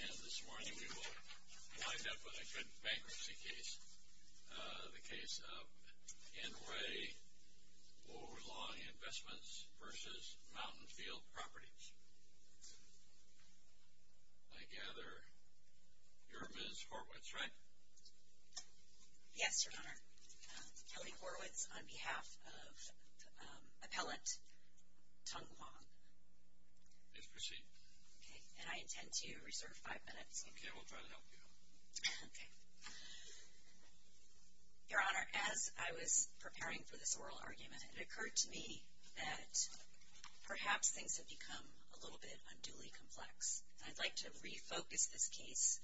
And this morning, we will wind up with a good bankruptcy case, the case of Inouye Overlaw Investments v. Mountainfield Properties. I gather you're Ms. Horwitz, right? Yes, Your Honor. Kelly Horwitz on behalf of appellant Teng Huang. Please proceed. Okay, and I intend to reserve five minutes. Okay, we'll try to help you. Okay. Your Honor, as I was preparing for this oral argument, it occurred to me that perhaps things have become a little bit unduly complex. And I'd like to refocus this case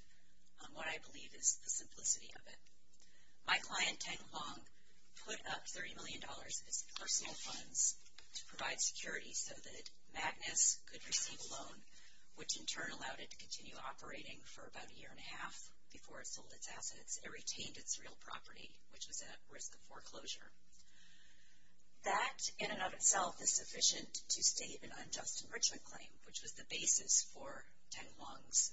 on what I believe is the simplicity of it. My client, Teng Huang, put up $30 million as personal funds to provide security so that Magnus could receive a loan, which in turn allowed it to continue operating for about a year and a half before it sold its assets and retained its real property, which was at risk of foreclosure. That, in and of itself, is sufficient to state an unjust enrichment claim, which was the basis for Teng Huang's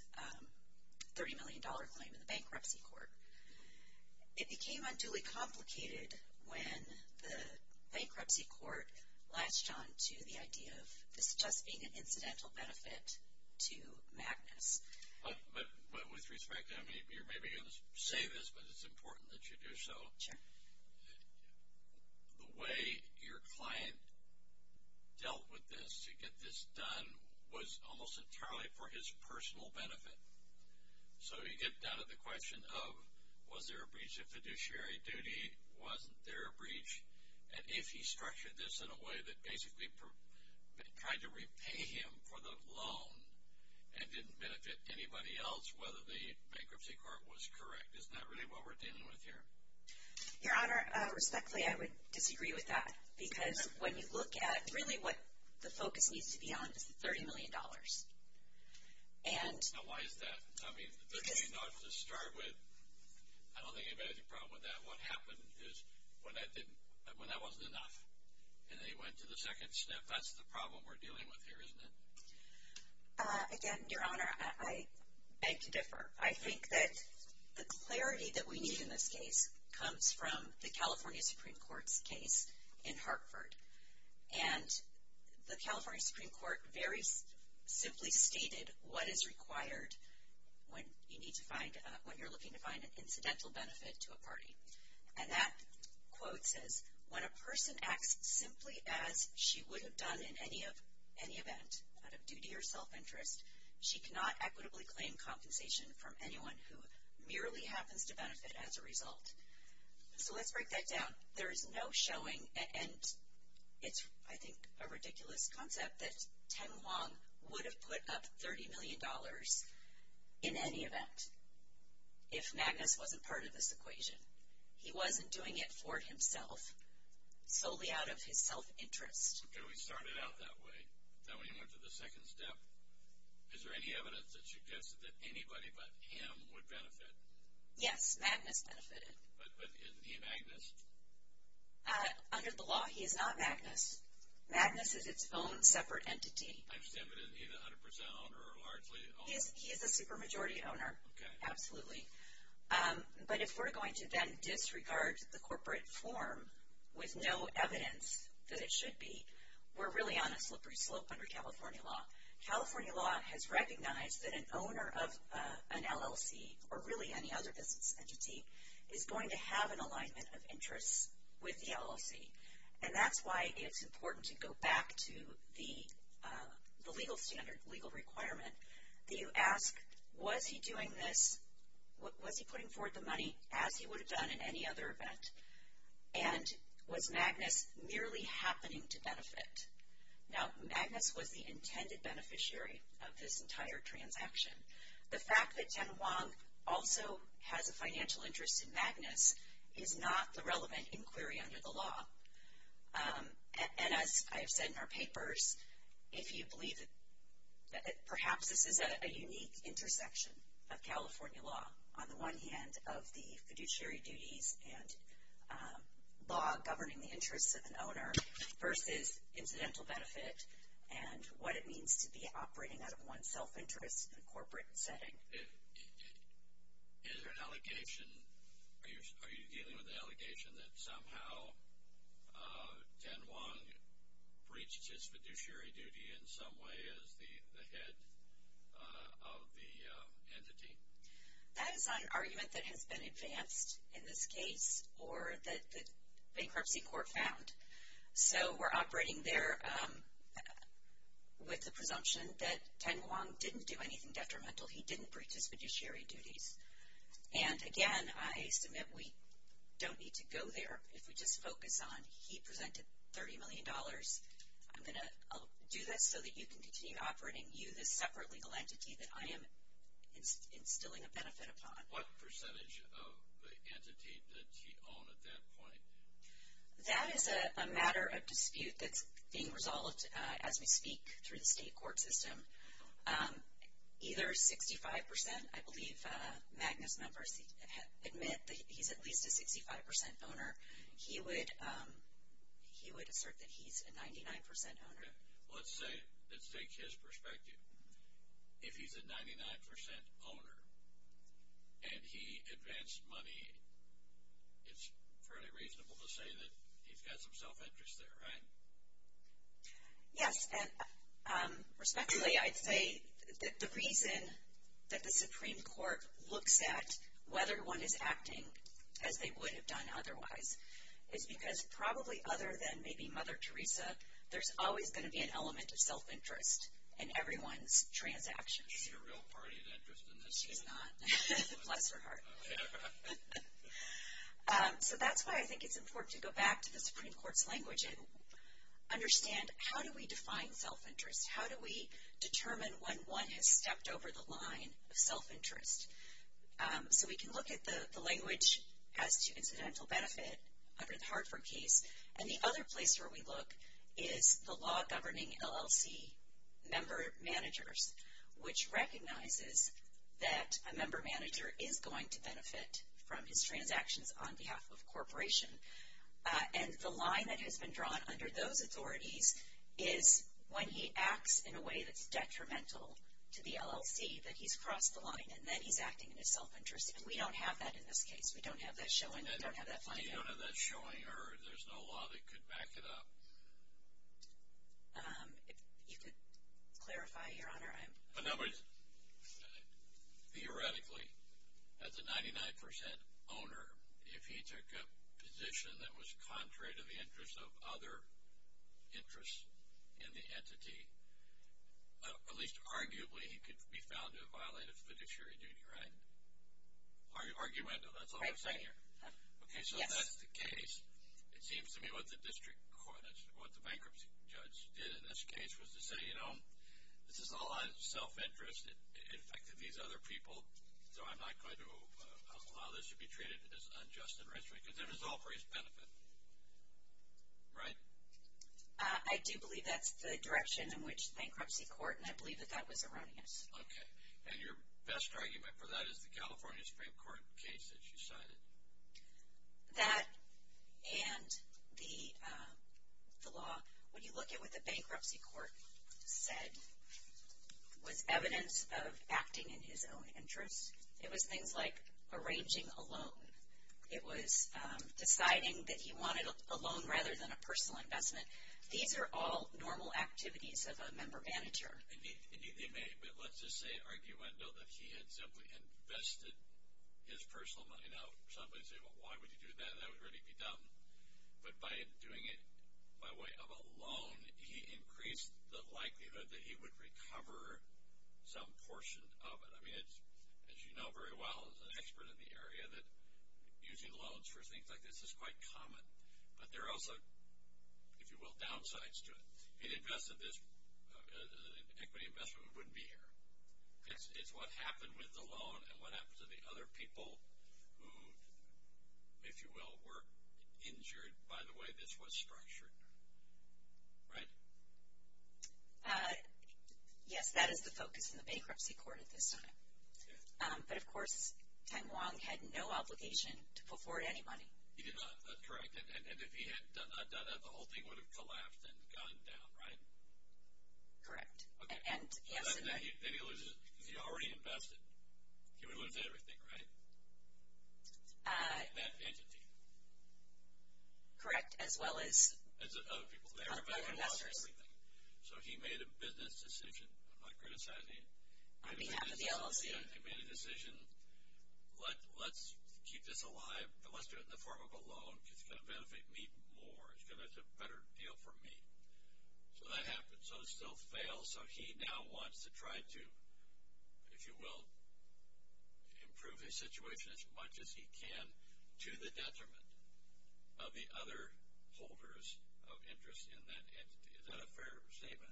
$30 million claim in the bankruptcy court. It became unduly complicated when the bankruptcy court latched onto the idea of this just being an incidental benefit to Magnus. But with respect, I mean, you're maybe going to say this, but it's important that you do so. Sure. The way your client dealt with this to get this done was almost entirely for his personal benefit. So you get down to the question of was there a breach of fiduciary duty? Wasn't there a breach? And if he structured this in a way that basically tried to repay him for the loan and didn't benefit anybody else, whether the bankruptcy court was correct. Isn't that really what we're dealing with here? Your Honor, respectfully, I would disagree with that because when you look at really what the focus needs to be on is the $30 million. Now, why is that? I mean, the $30 million to start with, I don't think anybody had a problem with that. What happened is when that wasn't enough and they went to the second sniff, that's the problem we're dealing with here, isn't it? Again, Your Honor, I beg to differ. I think that the clarity that we need in this case comes from the California Supreme Court's case in Hartford. And the California Supreme Court very simply stated what is required when you're looking to find an incidental benefit to a party. And that quote says, When a person acts simply as she would have done in any event, out of duty or self-interest, she cannot equitably claim compensation from anyone who merely happens to benefit as a result. So let's break that down. There is no showing, and it's, I think, a ridiculous concept, that Teng Huang would have put up $30 million in any event if Magnus wasn't part of this equation. He wasn't doing it for himself, solely out of his self-interest. Okay, we started out that way. Then we went to the second step. Is there any evidence that suggests that anybody but him would benefit? Yes, Magnus benefited. But isn't he Magnus? Under the law, he is not Magnus. Magnus is its own separate entity. I understand, but isn't he the 100% owner or largely owner? He is the supermajority owner. Okay. Absolutely. But if we're going to then disregard the corporate form with no evidence that it should be, we're really on a slippery slope under California law. California law has recognized that an owner of an LLC, or really any other business entity, is going to have an alignment of interests with the LLC. And that's why it's important to go back to the legal standard, legal requirement, that you ask, was he doing this? Was he putting forward the money as he would have done in any other event? And was Magnus merely happening to benefit? Now, Magnus was the intended beneficiary of this entire transaction. The fact that Ten Huang also has a financial interest in Magnus is not the relevant inquiry under the law. And as I have said in our papers, if you believe it, perhaps this is a unique intersection of California law. On the one hand, of the fiduciary duties and law governing the interests of an owner versus incidental benefit and what it means to be operating out of one's self-interest in a corporate setting. Is there an allegation, are you dealing with an allegation that somehow Ten Huang breached his fiduciary duty in some way as the head of the entity? That is an argument that has been advanced in this case or that the bankruptcy court found. So we're operating there with the presumption that Ten Huang didn't do anything detrimental. He didn't breach his fiduciary duties. And again, I submit we don't need to go there. If we just focus on he presented $30 million. I'm going to do this so that you can continue operating. You, the separate legal entity that I am instilling a benefit upon. What percentage of the entity did he own at that point? That is a matter of dispute that's being resolved as we speak through the state court system. Either 65%, I believe Magnus members admit that he's at least a 65% owner. He would assert that he's a 99% owner. Let's say, let's take his perspective. If he's a 99% owner and he advanced money, it's fairly reasonable to say that he's got some self-interest there, right? Yes. Respectfully, I'd say that the reason that the Supreme Court looks at whether one is acting as they would have done otherwise, is because probably other than maybe Mother Teresa, there's always going to be an element of self-interest in everyone's transactions. Is he a real party of interest in this case? He's not. Bless her heart. So that's why I think it's important to go back to the Supreme Court's language and understand how do we define self-interest? How do we determine when one has stepped over the line of self-interest? So we can look at the language as to incidental benefit under the Hartford case. And the other place where we look is the law governing LLC member managers, which recognizes that a member manager is going to benefit from his transactions on behalf of a corporation. And the line that has been drawn under those authorities is when he acts in a way that's detrimental to the LLC, that he's crossed the line, and then he's acting in his self-interest. And we don't have that in this case. We don't have that showing. We don't have that finding. You don't have that showing, or there's no law that could back it up? If you could clarify, Your Honor. Theoretically, as a 99 percent owner, if he took a position that was contrary to the interests of other interests in the entity, at least arguably he could be found to have violated fiduciary duty, right? Argumentative, that's all I'm saying here. Right, right. Okay, so that's the case. It seems to me what the district court, what the bankruptcy judge did in this case was to say, you know, this is all on self-interest. It affected these other people, so I'm not going to allow this to be treated as unjust enrichment, because it was all for his benefit, right? I do believe that's the direction in which the bankruptcy court, and I believe that that was erroneous. Okay, and your best argument for that is the California Supreme Court case that you cited. That and the law, when you look at what the bankruptcy court said, was evidence of acting in his own interest. It was things like arranging a loan. It was deciding that he wanted a loan rather than a personal investment. These are all normal activities of a member manager. Indeed they may, but let's just say, arguendo, that he had simply invested his personal money. Now, some might say, well, why would you do that? That would really be dumb. But by doing it by way of a loan, he increased the likelihood that he would recover some portion of it. I mean, as you know very well, as an expert in the area, that using loans for things like this is quite common. But there are also, if you will, downsides to it. He invested this equity investment. It wouldn't be here. It's what happened with the loan and what happened to the other people who, if you will, were injured by the way this was structured. Right? Yes, that is the focus in the bankruptcy court at this time. But, of course, Tang Wong had no obligation to put forward any money. He did not. That's correct. And if he had not done that, the whole thing would have collapsed and gone down, right? Correct. And he already invested. He already invested everything, right? That entity. Correct. As well as? Other people. Other investors. So, he made a business decision. I'm not criticizing it. On behalf of the LLC. He made a decision. Let's keep this alive, but let's do it in the form of a loan because it's going to benefit me more. It's a better deal for me. So, that happened. So, it still fails. So, he now wants to try to, if you will, improve his situation as much as he can to the detriment of the other holders of interest in that entity. Is that a fair statement?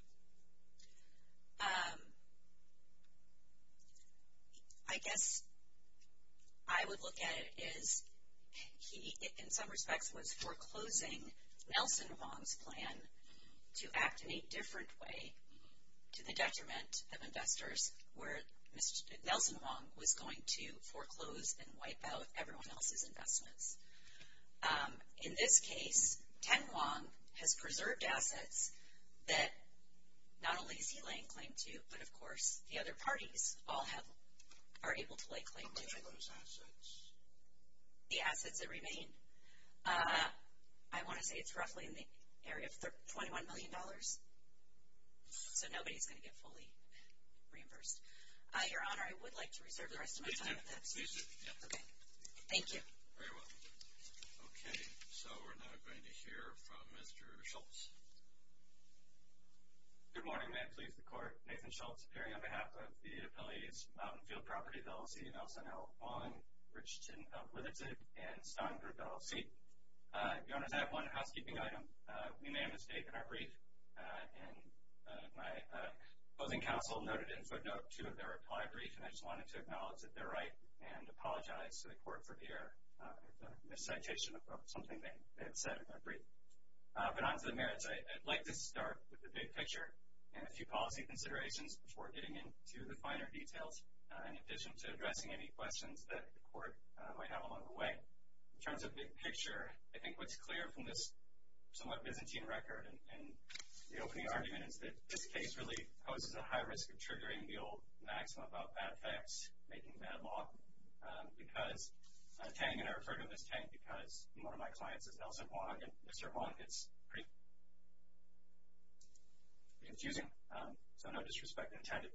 I guess I would look at it as he, in some respects, was foreclosing Nelson Wong's plan to act in a different way to the detriment of investors where Nelson Wong was going to foreclose and wipe out everyone else's investments. In this case, Ten Wong has preserved assets that not only is he laying claim to, but, of course, the other parties all are able to lay claim to. How many of those assets? The assets that remain? I want to say it's roughly in the area of $21 million. So, nobody is going to get fully reimbursed. Your Honor, I would like to reserve the rest of my time with this. Excuse me. Okay. Thank you. Very well. Okay. So, we're now going to hear from Mr. Schultz. Good morning. May it please the Court. Nathan Schultz, appearing on behalf of the Appellee's Mountain Field Property, LLC, and also Nelson Wong, Richardson, Litherton, and Stone Group, LLC. Your Honor, I have one housekeeping item. We made a mistake in our brief, and my opposing counsel noted in footnote two of their reply brief, and I just wanted to acknowledge that they're right and apologize to the Court for error in the citation of something they have said in their brief. But on to the merits, I'd like to start with the big picture and a few policy considerations before getting into the finer details, in addition to addressing any questions that the Court might have along the way. In terms of big picture, I think what's clear from this somewhat Byzantine record and the opening argument is that this case really poses a high risk of triggering the old maxim about bad facts making bad law. Because Tang, and I refer to him as Tang because one of my clients is Nelson Wong, and Mr. Wong gets pretty confusing, so no disrespect intended.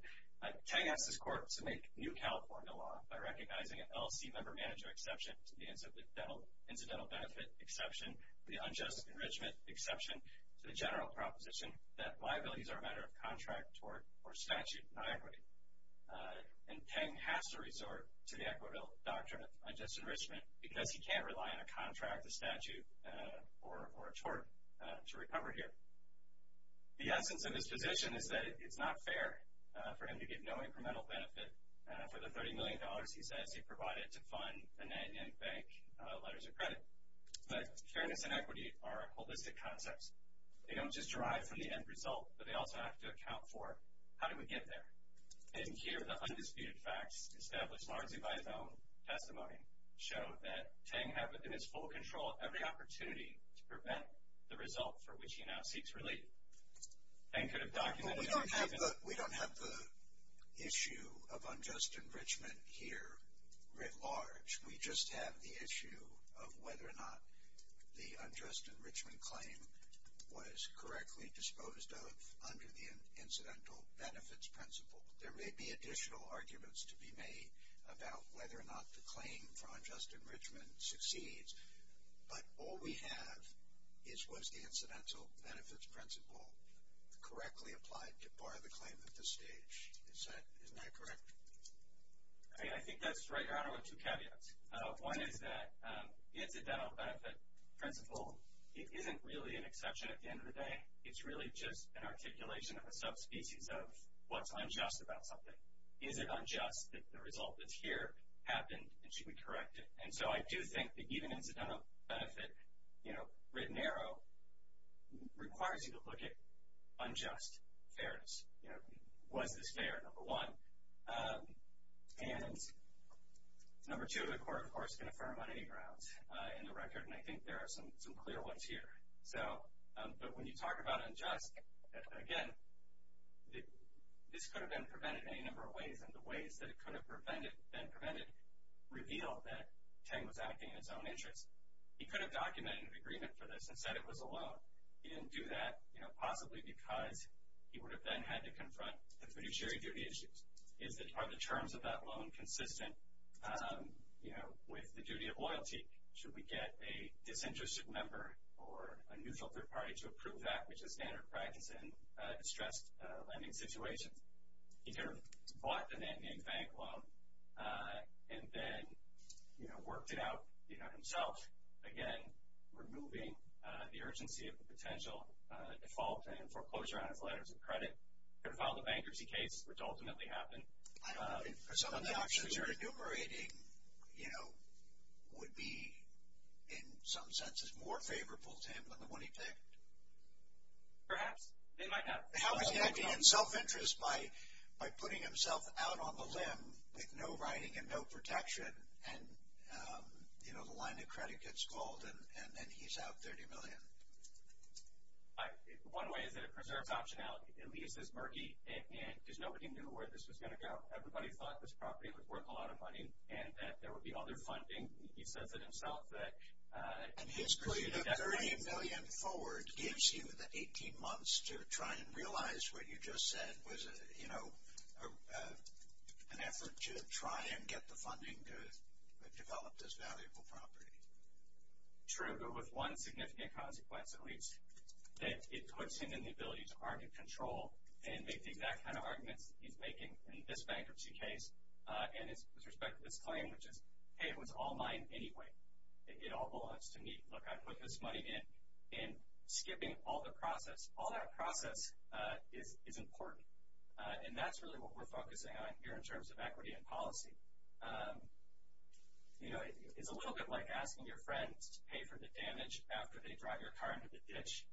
Tang asked this Court to make new California law by recognizing an LLC member manager exception to the incidental benefit exception, the unjust enrichment exception, to the general proposition that liabilities are a matter of contract, tort, or statute, not equity. And Tang has to resort to the equitable doctrine of unjust enrichment because he can't rely on a contract, a statute, or a tort to recover here. The essence of his position is that it's not fair for him to give no incremental benefit for the $30 million he says he provided to fund the Nanyang Bank letters of credit. But fairness and equity are holistic concepts. They don't just derive from the end result, but they also have to account for how do we get there. And here, the undisputed facts established largely by his own testimony show that Tang has within his full control every opportunity to prevent the result for which he now seeks relief. Tang could have documented these reasons. We don't have the issue of unjust enrichment here writ large. We just have the issue of whether or not the unjust enrichment claim was correctly disposed of under the incidental benefits principle. There may be additional arguments to be made about whether or not the claim for unjust enrichment succeeds, but all we have is was the incidental benefits principle correctly applied to bar the claim at this stage. Isn't that correct? I think that's right, Your Honor, with two caveats. One is that the incidental benefit principle isn't really an exception at the end of the day. It's really just an articulation of a subspecies of what's unjust about something. Is it unjust that the result that's here happened, and should we correct it? And so I do think that even incidental benefit, you know, written narrow, requires you to look at unjust fairness. Was this fair, number one? And number two, the Court, of course, can affirm on any grounds in the record, and I think there are some clear ones here. But when you talk about unjust, again, this could have been prevented in any number of ways, and the ways that it could have been prevented reveal that Tang was acting in his own interest. He could have documented an agreement for this and said it was a loan. He didn't do that, you know, possibly because he would have then had to confront the fiduciary duty issues. Are the terms of that loan consistent, you know, with the duty of loyalty? Should we get a disinterested member or a neutral third party to approve that, which is standard practice in distressed lending situations? He could have bought the name-name bank loan and then, you know, worked it out himself, again, removing the urgency of the potential default and foreclosure on his letters of credit. He could have filed a bankruptcy case, which ultimately happened. I don't think for some of the actions you're enumerating, you know, would be in some senses more favorable to him than the one he picked. Perhaps. They might not. How is he acting in self-interest by putting himself out on the limb with no writing and no protection? And, you know, the line of credit gets called, and then he's out $30 million. One way is that it preserves optionality. It leaves this murky, because nobody knew where this was going to go. Everybody thought this property was worth a lot of money and that there would be other funding. He says it himself. And his $30 million forward gives you the 18 months to try and realize what you just said was, you know, an effort to try and get the funding to develop this valuable property. True, but with one significant consequence, at least, that it puts him in the ability to argue control and make the exact kind of arguments he's making in this bankruptcy case and with respect to this claim, which is, hey, it was all mine anyway. It all belongs to me. Look, I put this money in, and skipping all the process, all that process is important, and that's really what we're focusing on here in terms of equity and policy. You know, it's a little bit like asking your friends to pay for the damage after they drive your car into the ditch,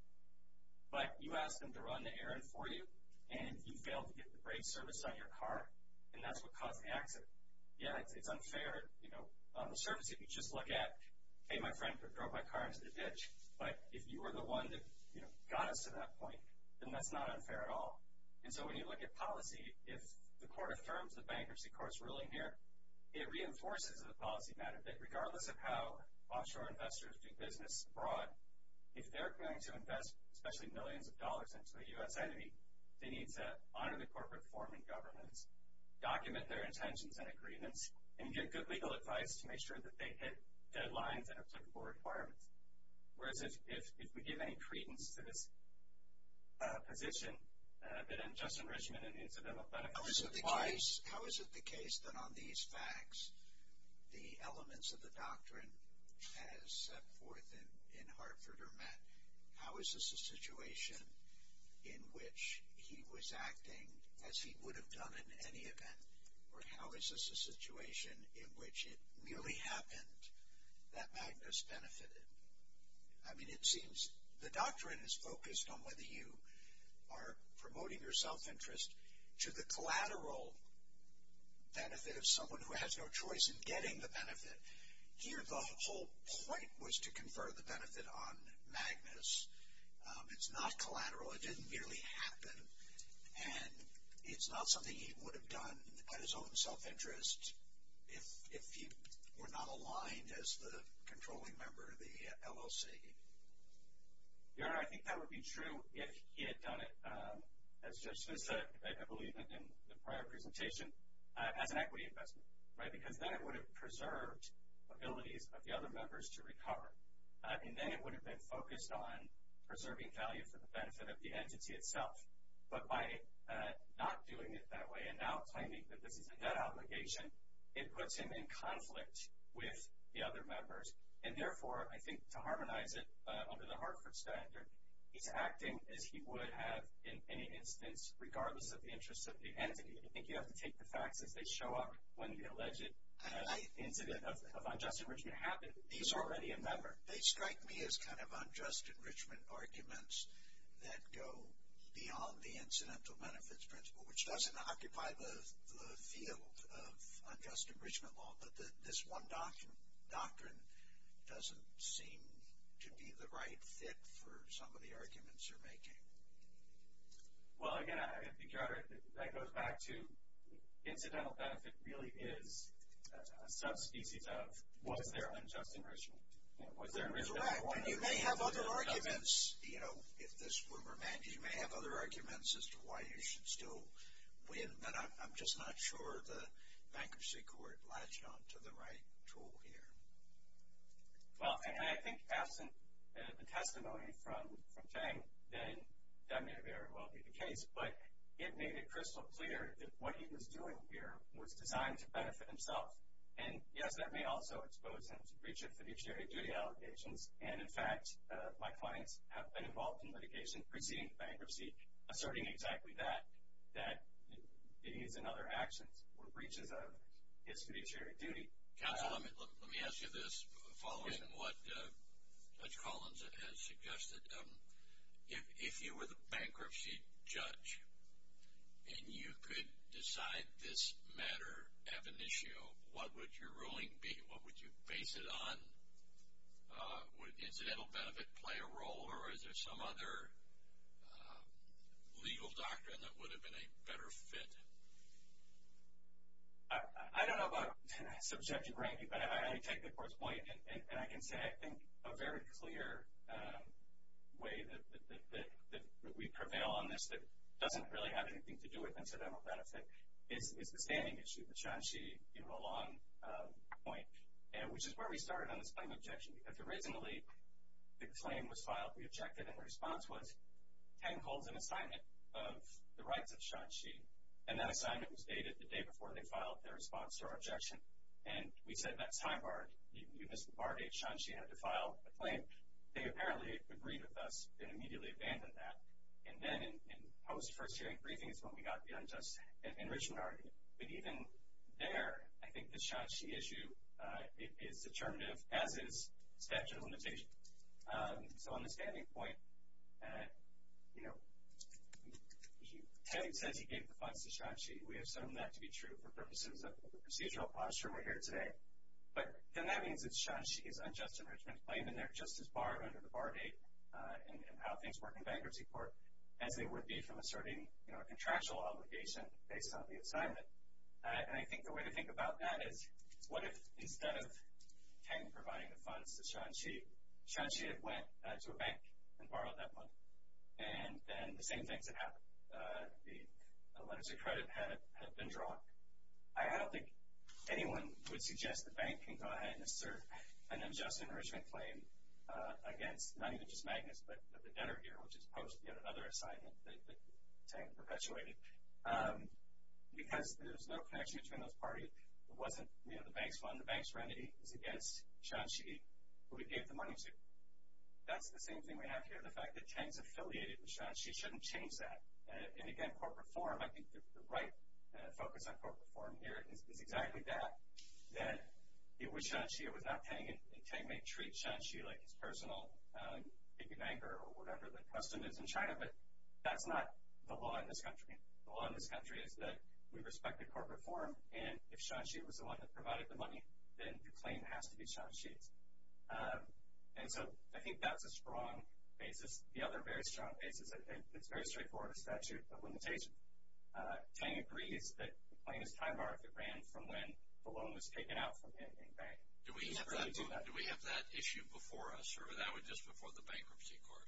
but you ask them to run the errand for you, and you fail to get the brake service on your car, and that's what caused the accident. Yeah, it's unfair. You know, on the surface, if you just look at, hey, my friend drove my car into the ditch, but if you were the one that, you know, got us to that point, then that's not unfair at all. And so when you look at policy, if the court affirms the bankruptcy court's ruling here, it reinforces the policy matter that regardless of how offshore investors do business abroad, if they're going to invest especially millions of dollars into a U.S. enemy, they need to honor the corporate form in government, document their intentions and agreements, and give good legal advice to make sure that they hit deadlines and applicable requirements. Whereas if we give any credence to this position, then just enrichment and incidental benefits applies. How is it the case that on these facts the elements of the doctrine as set forth in Hartford are met? How is this a situation in which he was acting as he would have done in any event, or how is this a situation in which it really happened that Magnus benefited? I mean, it seems the doctrine is focused on whether you are promoting your self-interest to the collateral benefit of someone who has no choice in getting the benefit. Here the whole point was to confer the benefit on Magnus. It's not collateral. It didn't really happen, and it's not something he would have done at his own self-interest if he were not aligned as the controlling member of the LLC. Your Honor, I think that would be true if he had done it, as Judge Smith said, I believe in the prior presentation, as an equity investment. Because then it would have preserved abilities of the other members to recover. And then it would have been focused on preserving value for the benefit of the entity itself. But by not doing it that way and now claiming that this is a debt obligation, it puts him in conflict with the other members. And therefore, I think to harmonize it under the Hartford standard, he's acting as he would have in any instance, regardless of the interests of the entity. I think you have to take the facts as they show up when the alleged incident of unjust enrichment happened. He's already a member. They strike me as kind of unjust enrichment arguments that go beyond the incidental benefits principle, which doesn't occupy the field of unjust enrichment law. But this one doctrine doesn't seem to be the right fit for some of the arguments you're making. Well, again, I think, Your Honor, that goes back to incidental benefit really is a subspecies of, was there unjust enrichment? And you may have other arguments, you know, if this were remanded, you may have other arguments as to why you should still win. But I'm just not sure the bankruptcy court latched onto the right tool here. Well, and I think absent the testimony from Chang, then that may very well be the case. But it made it crystal clear that what he was doing here was designed to benefit himself. And, yes, that may also expose him to breach of fiduciary duty allegations. And, in fact, my clients have been involved in litigation preceding the bankruptcy, asserting exactly that, that he's in other actions or breaches of his fiduciary duty. Counsel, let me ask you this, following what Judge Collins has suggested. If you were the bankruptcy judge and you could decide this matter ab initio, what would your ruling be? What would you base it on? Would incidental benefit play a role, or is there some other legal doctrine that would have been a better fit? I don't know about subjective ranking, but I take the court's point. And I can say I think a very clear way that we prevail on this that doesn't really have anything to do with incidental benefit is the standing issue that Shanxi gave a long point, which is where we started on this claim of objection. Because originally the claim was filed, we objected, and the response was, Tang holds an assignment of the rights of Shanxi, and that assignment was dated the day before they filed their response to our objection. And we said that's high barred. You missed the bar. Shanxi had to file a claim. They apparently agreed with us and immediately abandoned that. And then in post-first hearing briefings is when we got the unjust enrichment argument. But even there, I think the Shanxi issue is determinative, as is statute of limitations. So on the standing point, you know, Tang says he gave the funds to Shanxi. We assume that to be true for purposes of the procedural posture we're here today. But then that means that Shanxi's unjust enrichment claim, and they're just as barred under the bar date in how things work in bankruptcy court as they would be from asserting, you know, a contractual obligation based on the assignment. And I think the way to think about that is what if instead of Tang providing the funds to Shanxi, Shanxi had went to a bank and borrowed that money. And then the same things had happened. The letters of credit had been drawn. I don't think anyone would suggest the bank can go ahead and assert an unjust enrichment claim against not even just Magnus but the debtor here, which is post yet another assignment that Tang perpetuated. Because there's no connection between those parties. It wasn't, you know, the bank's fund. The bank's remedy is against Shanxi, who he gave the money to. That's the same thing we have here, the fact that Tang's affiliated with Shanxi. He shouldn't change that. And again, corporate form, I think the right focus on corporate form here is exactly that, that it was Shanxi, it was not Tang, and Tang may treat Shanxi like his personal piggy banker or whatever the custom is in China, but that's not the law in this country. The law in this country is that we respect the corporate form, and if Shanxi was the one that provided the money, then the claim has to be Shanxi's. And so I think that's a strong basis. The other very strong basis that's very straightforward is statute of limitations. Tang agrees that the claim is time-barred if it ran from when the loan was taken out from him in vain. Do we have that issue before us, or was that just before the bankruptcy court?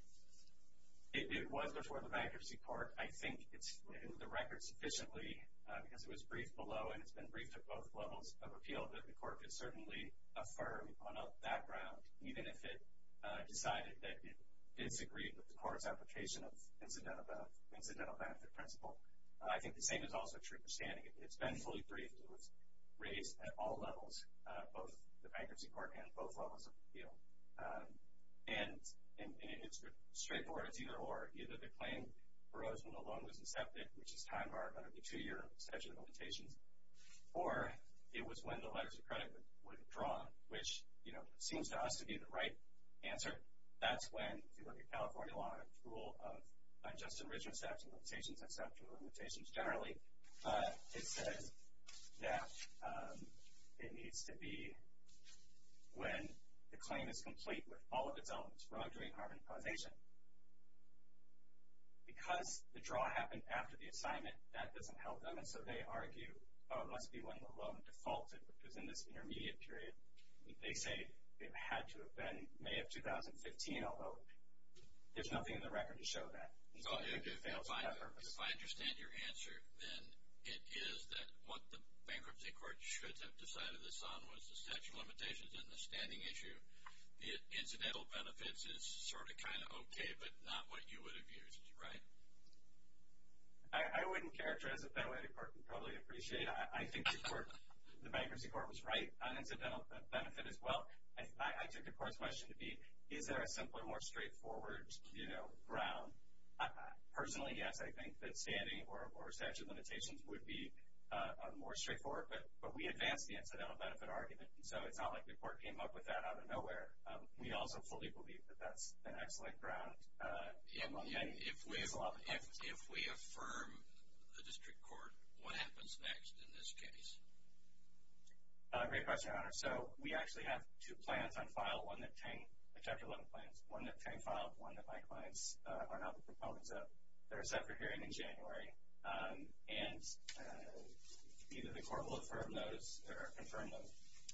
It was before the bankruptcy court. I think it's in the record sufficiently because it was briefed below, and it's been briefed at both levels of appeal, that the court could certainly affirm on that ground, even if it decided that it disagreed with the court's application of incidental benefit principle. I think the same is also true for standing. It's been fully briefed. It was raised at all levels, both the bankruptcy court and both levels of appeal. And it's straightforward. It's either or. Either the claim arose when the loan was accepted, which is time-barred under the two-year statute of limitations, or it was when the letters of credit were drawn, which seems to us to be the right answer. That's when, if you look at California law, which is the current rule of unjust and rigorous statute of limitations and statute of limitations generally, it says that it needs to be when the claim is complete with all of its elements, wrongdoing, harm, and causation. Because the draw happened after the assignment, that doesn't help them, and so they argue, oh, it must be when the loan defaulted, which was in this intermediate period. They say it had to have been May of 2015, although there's nothing in the record to show that. It fails to have purpose. If I understand your answer, then it is that what the bankruptcy court should have decided this on was the statute of limitations and the standing issue. Incidental benefits is sort of kind of okay, but not what you would have used, right? I wouldn't characterize it that way. The court would probably appreciate it. I think the bankruptcy court was right on incidental benefit as well. I took the court's question to be, is there a simpler, more straightforward ground? Personally, yes, I think that standing or statute of limitations would be more straightforward, but we advanced the incidental benefit argument, so it's not like the court came up with that out of nowhere. We also fully believe that that's an excellent ground. If we affirm the district court, what happens next in this case? Great question, Your Honor. So we actually have two plans on file, chapter 11 plans, one that Chang filed, one that my clients are now the proponents of. They're set for hearing in January, and either the court will affirm those or confirm them,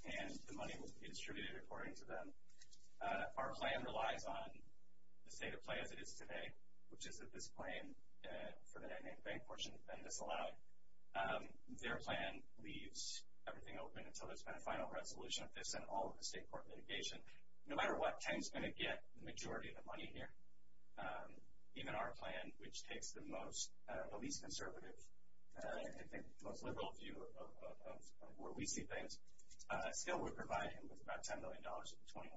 and the money will be distributed according to them. Our plan relies on the state of play as it is today, which is that this plan for the dynamic bank portion has been disallowed. Their plan leaves everything open until there's been a final resolution of this and all of the state court litigation. No matter what, Chang's going to get the majority of the money here. Even our plan, which takes the least conservative, I think, most liberal view of where we see things, still will provide him with about $10 million of the 21.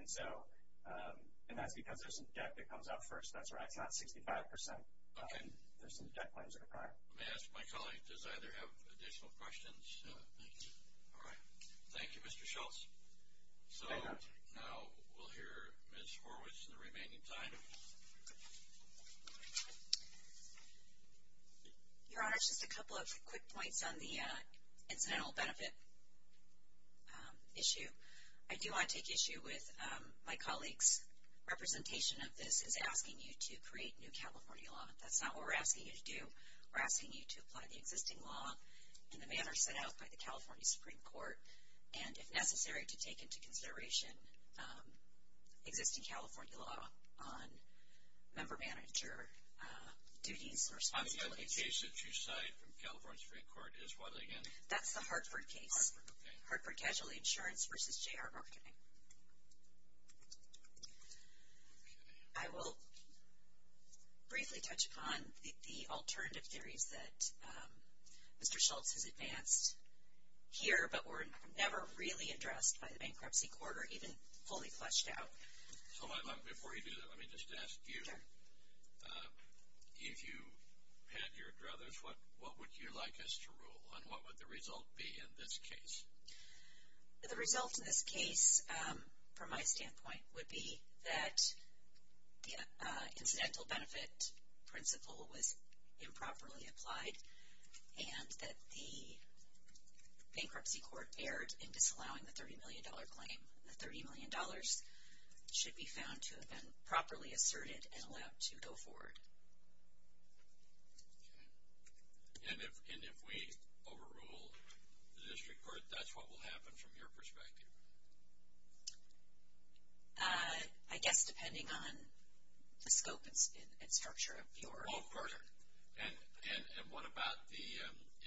And that's because there's some debt that comes up first. That's right. It's not 65%. There's some debt claims that are prior. Let me ask my colleague, does either have additional questions? No. All right. Thank you, Mr. Schultz. Thank you, Your Honor. So now we'll hear Ms. Horwitz in the remaining time. Your Honor, just a couple of quick points on the incidental benefit issue. I do want to take issue with my colleague's representation of this as asking you to create new California law. That's not what we're asking you to do. We're asking you to apply the existing law in the manner set out by the California Supreme Court, and if necessary, to take into consideration existing California law on member manager duties and responsibilities. I'm hearing the case that you cite from California Supreme Court is what again? That's the Hartford case. Hartford, okay. Hartford Casualty Insurance v. J.R. Marketing. I will briefly touch upon the alternative theories that Mr. Schultz has advanced here but were never really addressed by the bankruptcy court or even fully fleshed out. Before you do that, let me just ask you, if you had your druthers, what would you like us to rule? And what would the result be in this case? The result in this case, from my standpoint, would be that the incidental benefit principle was improperly applied and that the bankruptcy court erred in disallowing the $30 million claim. The $30 million should be found to have been properly asserted and allowed to go forward. Okay. And if we overrule the district court, that's what will happen from your perspective? I guess depending on the scope and structure of your court. And what about the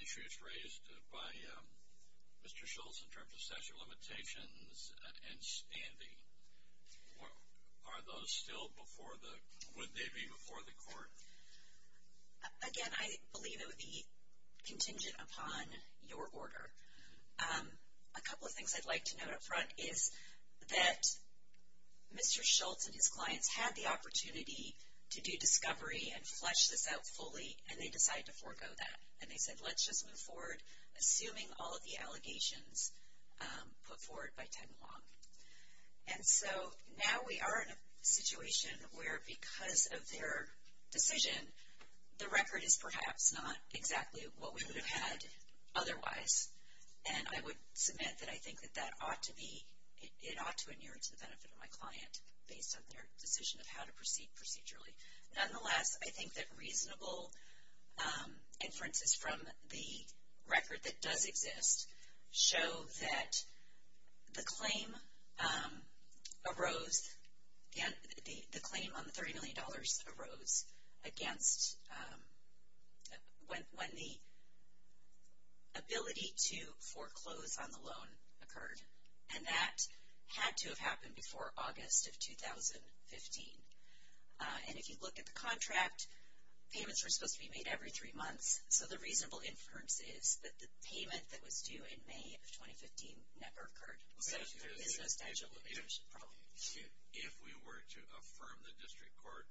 issues raised by Mr. Schultz in terms of statute of limitations and standing? Are those still before the, would they be before the court? Again, I believe it would be contingent upon your order. A couple of things I'd like to note up front is that Mr. Schultz and his clients had the opportunity to do discovery and flesh this out fully and they decided to forego that. And they said, let's just move forward, assuming all of the allegations put forward by time along. And so now we are in a situation where because of their decision, the record is perhaps not exactly what we would have had otherwise. And I would submit that I think that that ought to be, it ought to adhere to the benefit of my client, based on their decision of how to proceed procedurally. Nonetheless, I think that reasonable inferences from the record that does exist show that the claim arose, the claim on the $30 million arose against when the ability to foreclose on the loan occurred. And that had to have happened before August of 2015. And if you look at the contract, payments were supposed to be made every three months. So the reasonable inference is that the payment that was due in May of 2015 never occurred. So there is no statute of limitations. If we were to affirm the district court,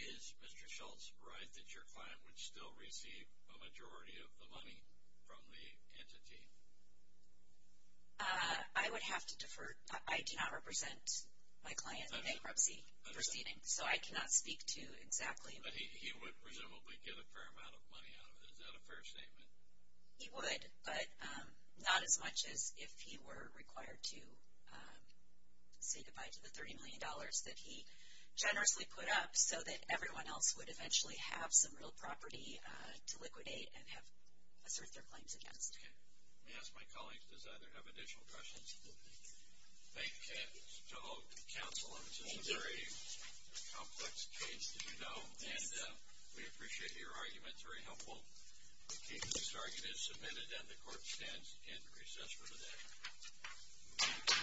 is Mr. Schultz right that your client would still receive a majority of the money from the entity? I would have to defer. I do not represent my client in bankruptcy. So I cannot speak to exactly. But he would presumably get a fair amount of money out of it. Is that a fair statement? He would, but not as much as if he were required to say goodbye to the $30 million that he generously put up, so that everyone else would eventually have some real property to liquidate and have asserted their claims against. Let me ask my colleagues, does either have additional questions? Thank you, counsel. This is a very complex case, as you know, and we appreciate your arguments. Very helpful. The case is submitted and the court stands in recess for the day. I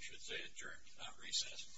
should say adjourned, not recessed.